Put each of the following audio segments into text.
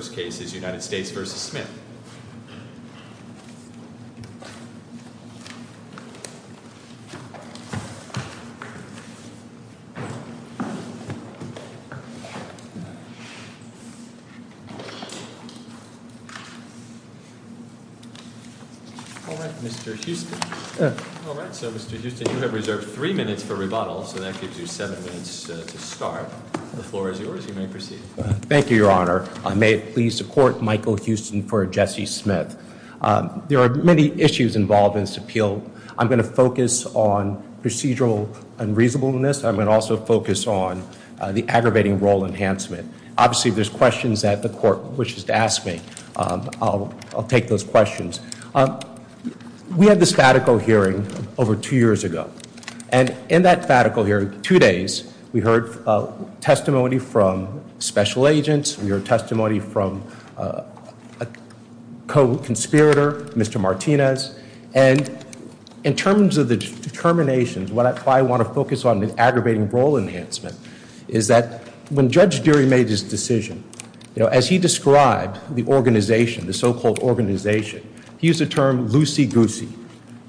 Mr. Huston, you have reserved three minutes for rebuttal, so that gives you seven minutes to start. The floor is yours. You may proceed. Thank you, your honor. May it please the court, Michael Huston for Jesse Smith. There are many issues involved in this appeal. I'm going to focus on procedural unreasonableness. I'm going to also focus on the aggravating role enhancement. Obviously, if there's questions that the court wishes to ask me, I'll take those questions. We had this fatico hearing over two years ago, and in that fatico hearing, two days, we heard testimony from special agents, we heard testimony from a co-conspirator, Mr. Martinez, and in terms of the determinations, why I want to focus on the aggravating role enhancement is that when Judge Deary made his decision, as he described the organization, the so-called organization, he used the term loosey-goosey.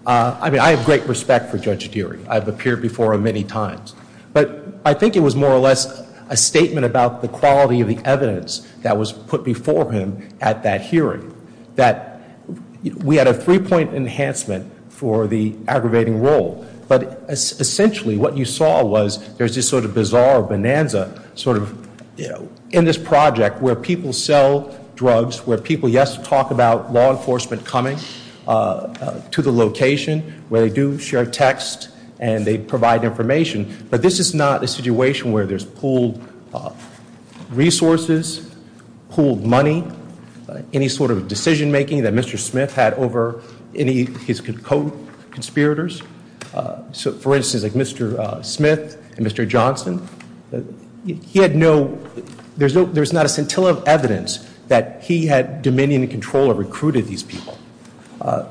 I mean, I have great respect for Judge Deary. I've appeared before him many times. But I think it was more or less a statement about the quality of the evidence that was put before him at that hearing. That we had a three-point enhancement for the aggravating role. But essentially, what you saw was, there's this sort of bizarre bonanza in this project where people sell drugs, where people, yes, talk about law enforcement coming to the location, where they do share text, and they provide information. But this is not a situation where there's pooled resources, pooled money, any sort of decision making that Mr. Smith had over any of his co-conspirators. So, for instance, like Mr. Smith and Mr. Johnson, he had no, there's not a scintilla of evidence that he had dominion and control or recruited these people.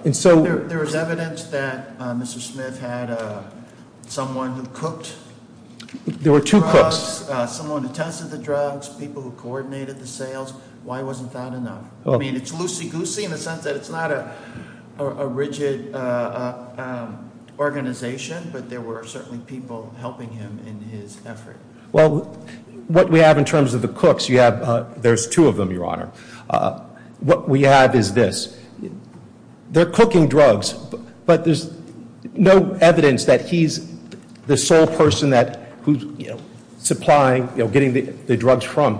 And so- There was evidence that Mr. Smith had someone who cooked the drugs. There were two cooks. Someone who tested the drugs, people who coordinated the sales. Why wasn't that enough? I mean, it's loosey-goosey in the sense that it's not a rigid organization, but there were certainly people helping him in his effort. Well, what we have in terms of the cooks, you have, there's two of them, your honor. What we have is this. They're cooking drugs, but there's no evidence that he's the sole person who's supplying, getting the drugs from.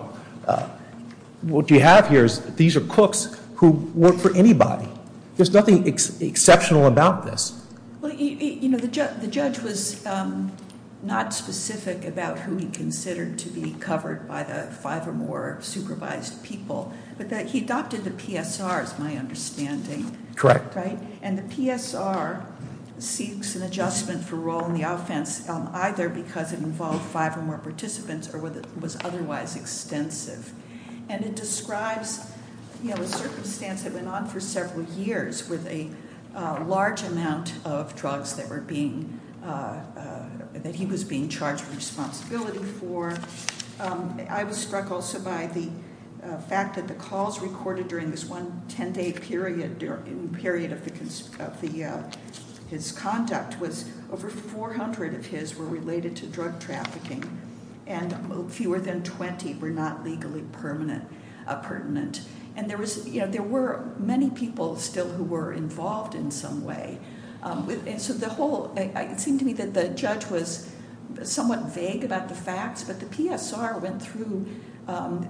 What you have here is, these are cooks who work for anybody. There's nothing exceptional about this. Well, the judge was not specific about who he considered to be covered by the five or more supervised people, but that he adopted the PSR, is my understanding. Correct. And the PSR seeks an adjustment for role in the offense, either because it involved five or more participants, or whether it was otherwise extensive, and it describes a circumstance that went on for several years with a large amount of drugs that were being, that he was being charged with responsibility for. I was struck also by the fact that the calls recorded during this one ten day period, period of the, his conduct was over 400 of his were related to drug trafficking. And fewer than 20 were not legally permanent, pertinent. And there was, there were many people still who were involved in some way. And so the whole, it seemed to me that the judge was somewhat vague about the facts, but the PSR went through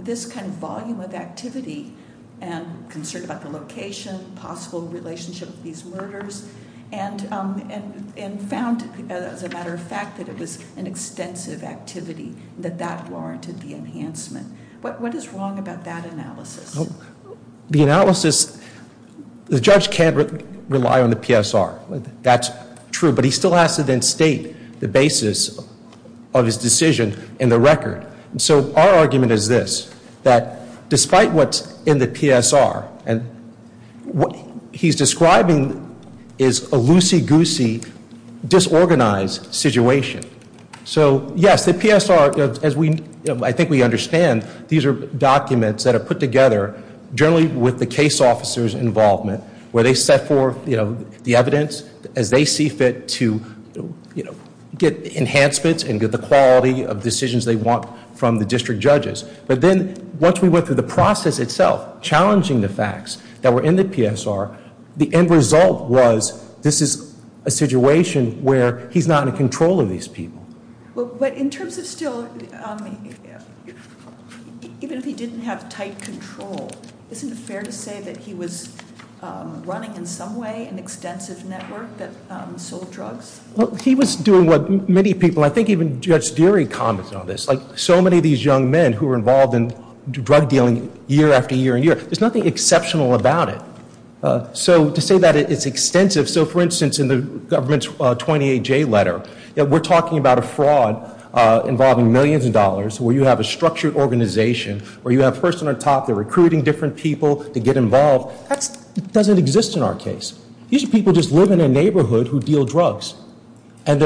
this kind of volume of activity and concern about the location, possible relationship of these murders, and found, as a matter of fact, that it was an extensive activity, that that warranted the enhancement. What is wrong about that analysis? The analysis, the judge can't rely on the PSR. That's true, but he still has to then state the basis of his decision in the record. So our argument is this, that despite what's in the PSR, and what he's describing is a loosey-goosey, disorganized situation, so yes, the PSR, as we, I think we understand, these are documents that are put together, generally with the case officer's involvement, where they set forth the evidence as they see fit to get enhancements and get the quality of decisions they want from the district judges. But then once we went through the process itself, challenging the facts that were in the PSR, the end result was this is a situation where he's not in control of these people. But in terms of still, even if he didn't have tight control, isn't it fair to say that he was running in some way an extensive network that sold drugs? Well, he was doing what many people, I think even Judge Deary commented on this, like so many of these young men who were involved in drug dealing year after year and year, there's nothing exceptional about it. So to say that it's extensive, so for instance, in the government's 28J letter, that we're talking about a fraud involving millions of dollars, where you have a structured organization, where you have a person on top, they're recruiting different people to get involved, that doesn't exist in our case. These are people just living in a neighborhood who deal drugs, and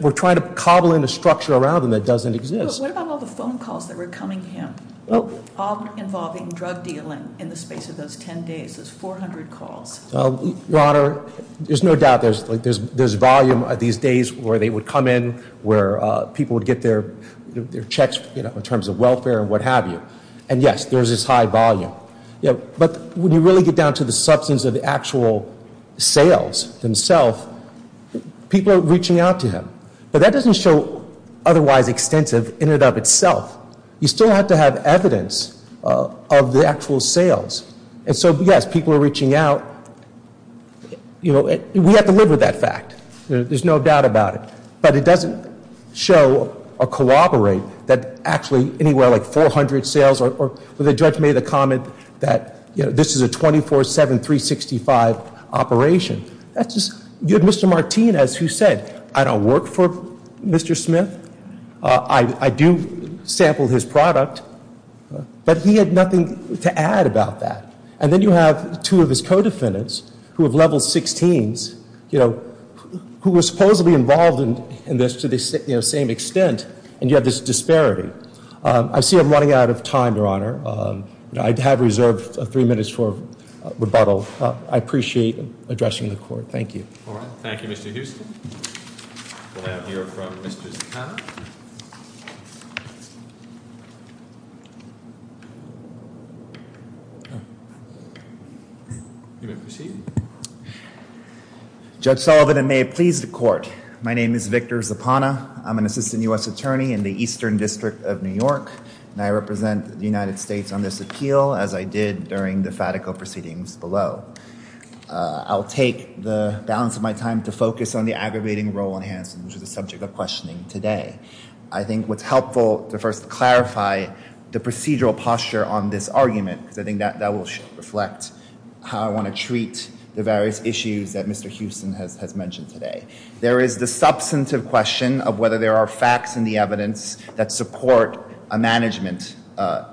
we're trying to cobble in a structure around them that doesn't exist. But what about all the phone calls that were coming to him, all involving drug dealing in the space of those ten days, those 400 calls? Well, your honor, there's no doubt there's volume of these days where they would come in, where people would get their checks in terms of welfare and what have you. And yes, there's this high volume. But when you really get down to the substance of the actual sales themselves, people are reaching out to him. But that doesn't show otherwise extensive in and of itself. You still have to have evidence of the actual sales. And so, yes, people are reaching out, we have to live with that fact, there's no doubt about it. But it doesn't show or cooperate that actually anywhere like 400 sales or the judge made the comment that this is a 24-7, 365 operation. That's just, you had Mr. Martinez who said, I don't work for Mr. Smith. I do sample his product, but he had nothing to add about that. And then you have two of his co-defendants who have level 16s, who were supposedly involved in this to the same extent, and you have this disparity. I see I'm running out of time, your honor. I have reserved three minutes for rebuttal. I appreciate addressing the court. Thank you. All right, thank you, Mr. Houston. We'll have here from Mr. Zapana. You may proceed. Judge Sullivan, and may it please the court. My name is Victor Zapana. I'm an assistant US attorney in the Eastern District of New York. And I represent the United States on this appeal, as I did during the Fatico proceedings below. I'll take the balance of my time to focus on the aggravating role in Hansen, which is the subject of questioning today. I think what's helpful to first clarify the procedural posture on this argument, because I think that will reflect how I want to treat the various issues that Mr. Houston has mentioned today. There is the substantive question of whether there are facts in the evidence that support a management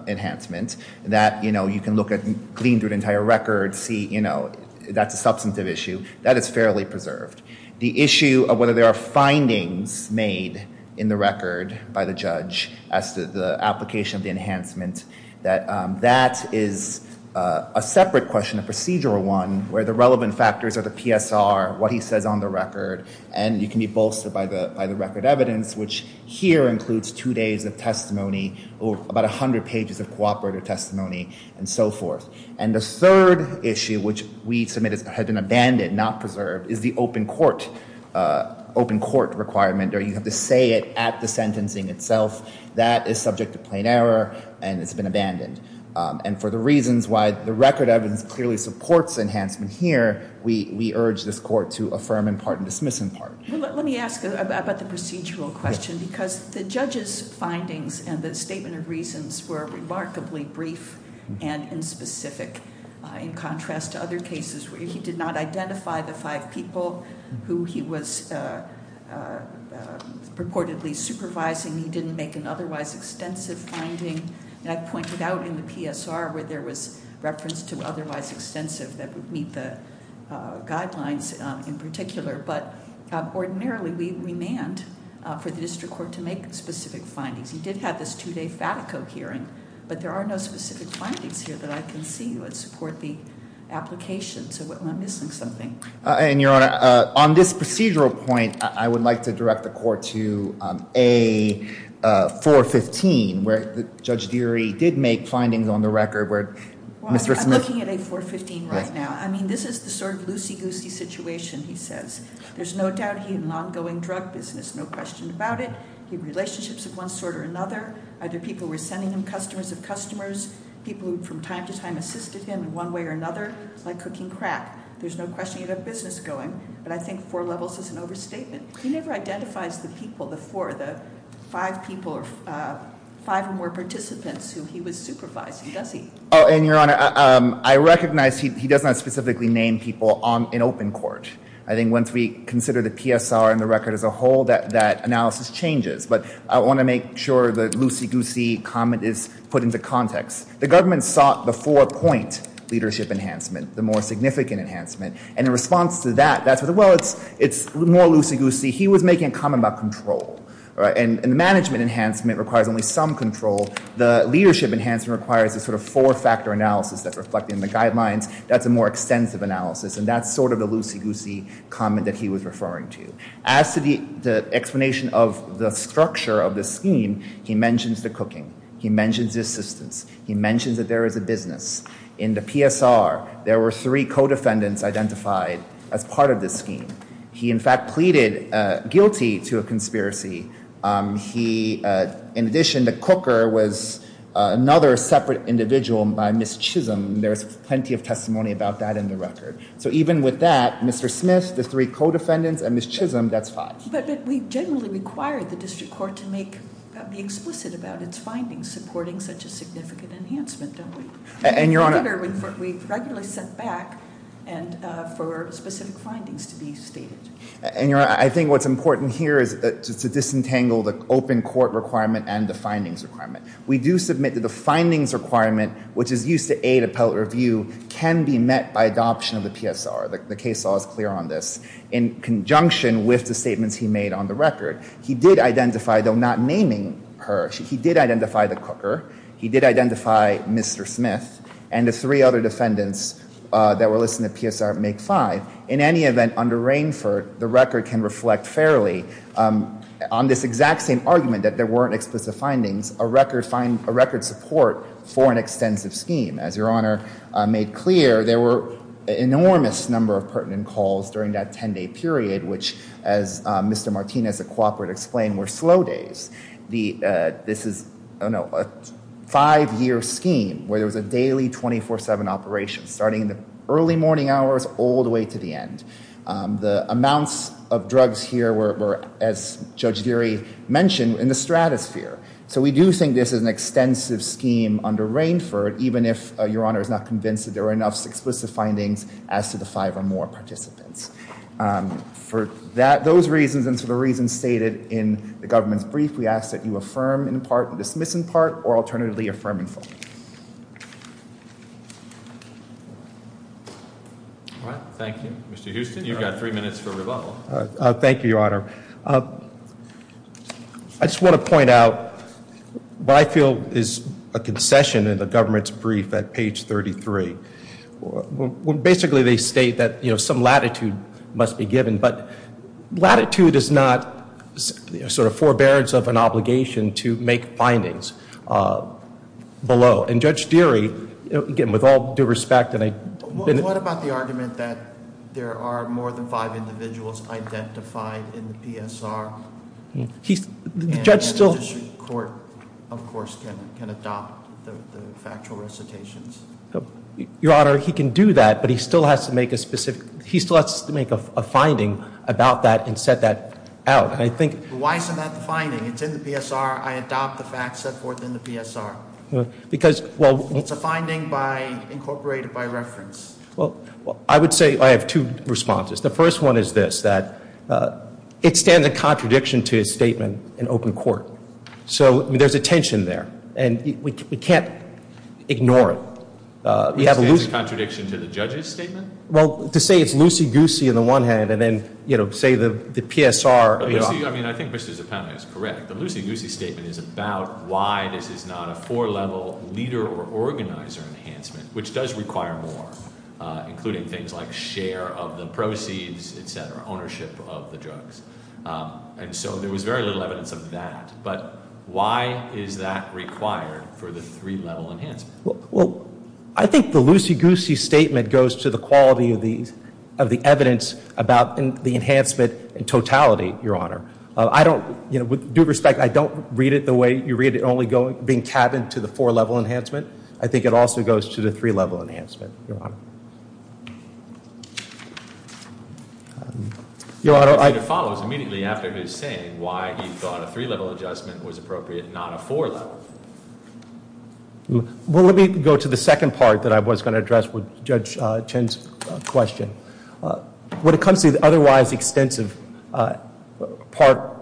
enhancement that, you know, you can look at, you can glean through an entire record, see, you know, that's a substantive issue. That is fairly preserved. The issue of whether there are findings made in the record by the judge as to the application of the enhancement, that is a separate question, a procedural one, where the relevant factors are the PSR, what he says on the record. And you can be bolstered by the record evidence, which here includes two days of testimony, about 100 pages of cooperative testimony, and so forth. And the third issue, which we submit has been abandoned, not preserved, is the open court, open court requirement, or you have to say it at the sentencing itself. That is subject to plain error, and it's been abandoned. And for the reasons why the record evidence clearly supports enhancement here, we urge this court to affirm in part and dismiss in part. Let me ask about the procedural question, because the judge's findings and the statement of reasons were remarkably brief and inspecific in contrast to other cases where he did not identify the five people who he was purportedly supervising, he didn't make an otherwise extensive finding. And I pointed out in the PSR where there was reference to otherwise extensive that would meet the guidelines in particular. But ordinarily, we demand for the district court to make specific findings. He did have this two day Fatico hearing, but there are no specific findings here that I can see would support the application. So what, am I missing something? And your honor, on this procedural point, I would like to direct the court to A415, where Judge Deary did make findings on the record where Mr. Smith- I'm looking at A415 right now. I mean, this is the sort of loosey-goosey situation, he says. There's no doubt he had an ongoing drug business, no question about it. He had relationships of one sort or another. Either people were sending him customers of customers, people who from time to time assisted him in one way or another, like cooking crap. There's no question he had a business going, but I think four levels is an overstatement. He never identifies the people, the four, the five people or five or more participants who he was supervising, does he? And your honor, I recognize he does not specifically name people in open court. I think once we consider the PSR and the record as a whole, that analysis changes. But I want to make sure the loosey-goosey comment is put into context. The government sought the four point leadership enhancement, the more significant enhancement. And in response to that, that's what, well, it's more loosey-goosey. He was making a comment about control, and the management enhancement requires only some control. The leadership enhancement requires a sort of four-factor analysis that's reflected in the guidelines. That's a more extensive analysis, and that's sort of the loosey-goosey comment that he was referring to. As to the explanation of the structure of the scheme, he mentions the cooking. He mentions assistance. He mentions that there is a business. In the PSR, there were three co-defendants identified as part of this scheme. He, in fact, pleaded guilty to a conspiracy. He, in addition, the cooker was another separate individual by Ms. Chisholm. There's plenty of testimony about that in the record. So even with that, Mr. Smith, the three co-defendants, and Ms. Chisholm, that's five. But we generally require the district court to make, be explicit about its findings supporting such a significant enhancement, don't we? And your honor- We regularly set back and for specific findings to be stated. And your honor, I think what's important here is to disentangle the open court requirement and the findings requirement. We do submit that the findings requirement, which is used to aid appellate review, can be met by adoption of the PSR. The case law is clear on this. In conjunction with the statements he made on the record, he did identify, though not naming her, he did identify the cooker. He did identify Mr. Smith, and the three other defendants that were listed in the PSR make five. In any event, under Rainford, the record can reflect fairly on this exact same argument, that there weren't explicit findings, a record support for an extensive scheme. As your honor made clear, there were enormous number of pertinent calls during that ten day period, which, as Mr. Martinez, a cooperate, explained, were slow days. This is a five year scheme, where there was a daily 24-7 operation, starting in the early morning hours, all the way to the end. The amounts of drugs here were, as Judge Geary mentioned, in the stratosphere. So we do think this is an extensive scheme under Rainford, even if your honor is not convinced that there are enough explicit findings as to the five or more participants. For those reasons, and for the reasons stated in the government's brief, we ask that you affirm in part, dismiss in part, or alternatively affirm in full. All right, thank you. Mr. Houston, you've got three minutes for rebuttal. Thank you, your honor. I just want to point out, what I feel is a concession in the government's brief at page 33. Basically, they state that some latitude must be given, but latitude is not sort of forbearance of an obligation to make findings below. And Judge Geary, again, with all due respect, and I've been- What about the argument that there are more than five individuals identified in the PSR? He's, the judge still- And the district court, of course, can adopt the factual recitations. Your honor, he can do that, but he still has to make a specific, he still has to make a finding about that and set that out. And I think- Why isn't that the finding? It's in the PSR. I adopt the facts set forth in the PSR. Because, well- It's a finding incorporated by reference. Well, I would say I have two responses. The first one is this, that it stands in contradiction to his statement in open court. So there's a tension there, and we can't ignore it. You have a loose- It stands in contradiction to the judge's statement? Well, to say it's loosey-goosey on the one hand, and then say the PSR- I mean, I think Mr. Zappelli is correct. The loosey-goosey statement is about why this is not a four-level leader or organizer enhancement, which does require more, including things like share of the proceeds, etc., ownership of the drugs. And so there was very little evidence of that. But why is that required for the three-level enhancement? Well, I think the loosey-goosey statement goes to the quality of the evidence about the enhancement in totality, your honor. I don't, with due respect, I don't read it the way you read it, only being cabined to the four-level enhancement. I think it also goes to the three-level enhancement, your honor. Your honor, I- The procedure follows immediately after his saying why he thought a three-level adjustment was appropriate, not a four-level. Well, let me go to the second part that I was going to address with Judge Chen's question. When it comes to the otherwise extensive part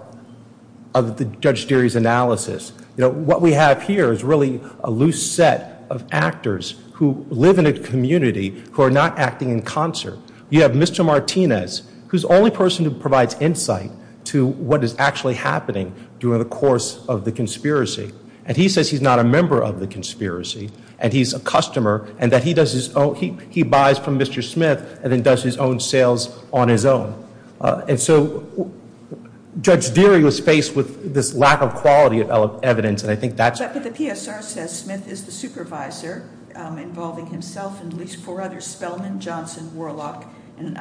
of the Judge Deary's analysis, what we have here is really a loose set of actors who live in a community who are not acting in concert. You have Mr. Martinez, who's the only person who provides insight to what is actually happening during the course of the conspiracy. And he says he's not a member of the conspiracy, and he's a customer, and that he buys from Mr. Smith and then does his own sales on his own. And so Judge Deary was faced with this lack of quality of evidence, and I think that's- But the PSR says Smith is the supervisor involving himself and at least four others, Spellman, Johnson, Warlock, and an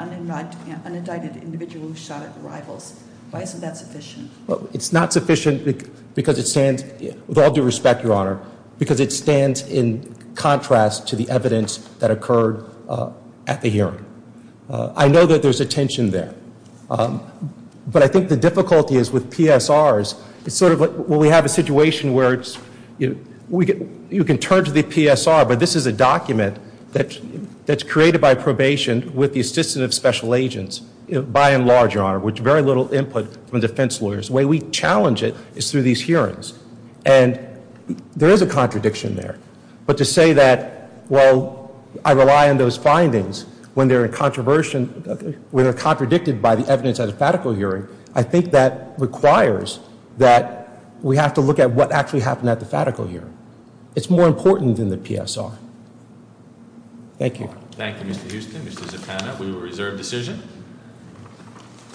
unindicted individual who shot at rivals. Why isn't that sufficient? It's not sufficient because it stands, with all due respect, your honor, because it stands in contrast to the evidence that occurred at the hearing. I know that there's a tension there, but I think the difficulty is with PSRs, it's sort of like when we have a situation where it's, you can turn to the PSR, but this is a document that's created by probation with the assistance of special agents, by and large, your honor, with very little input from defense lawyers. The way we challenge it is through these hearings, and there is a contradiction there. But to say that, well, I rely on those findings when they're in controversy, when they're contradicted by the evidence at a fatical hearing, I think that requires that we have to look at what actually happened at the fatical hearing. It's more important than the PSR. Thank you. Thank you, Mr. Houston, Mr. Zaccano. We will reserve decision.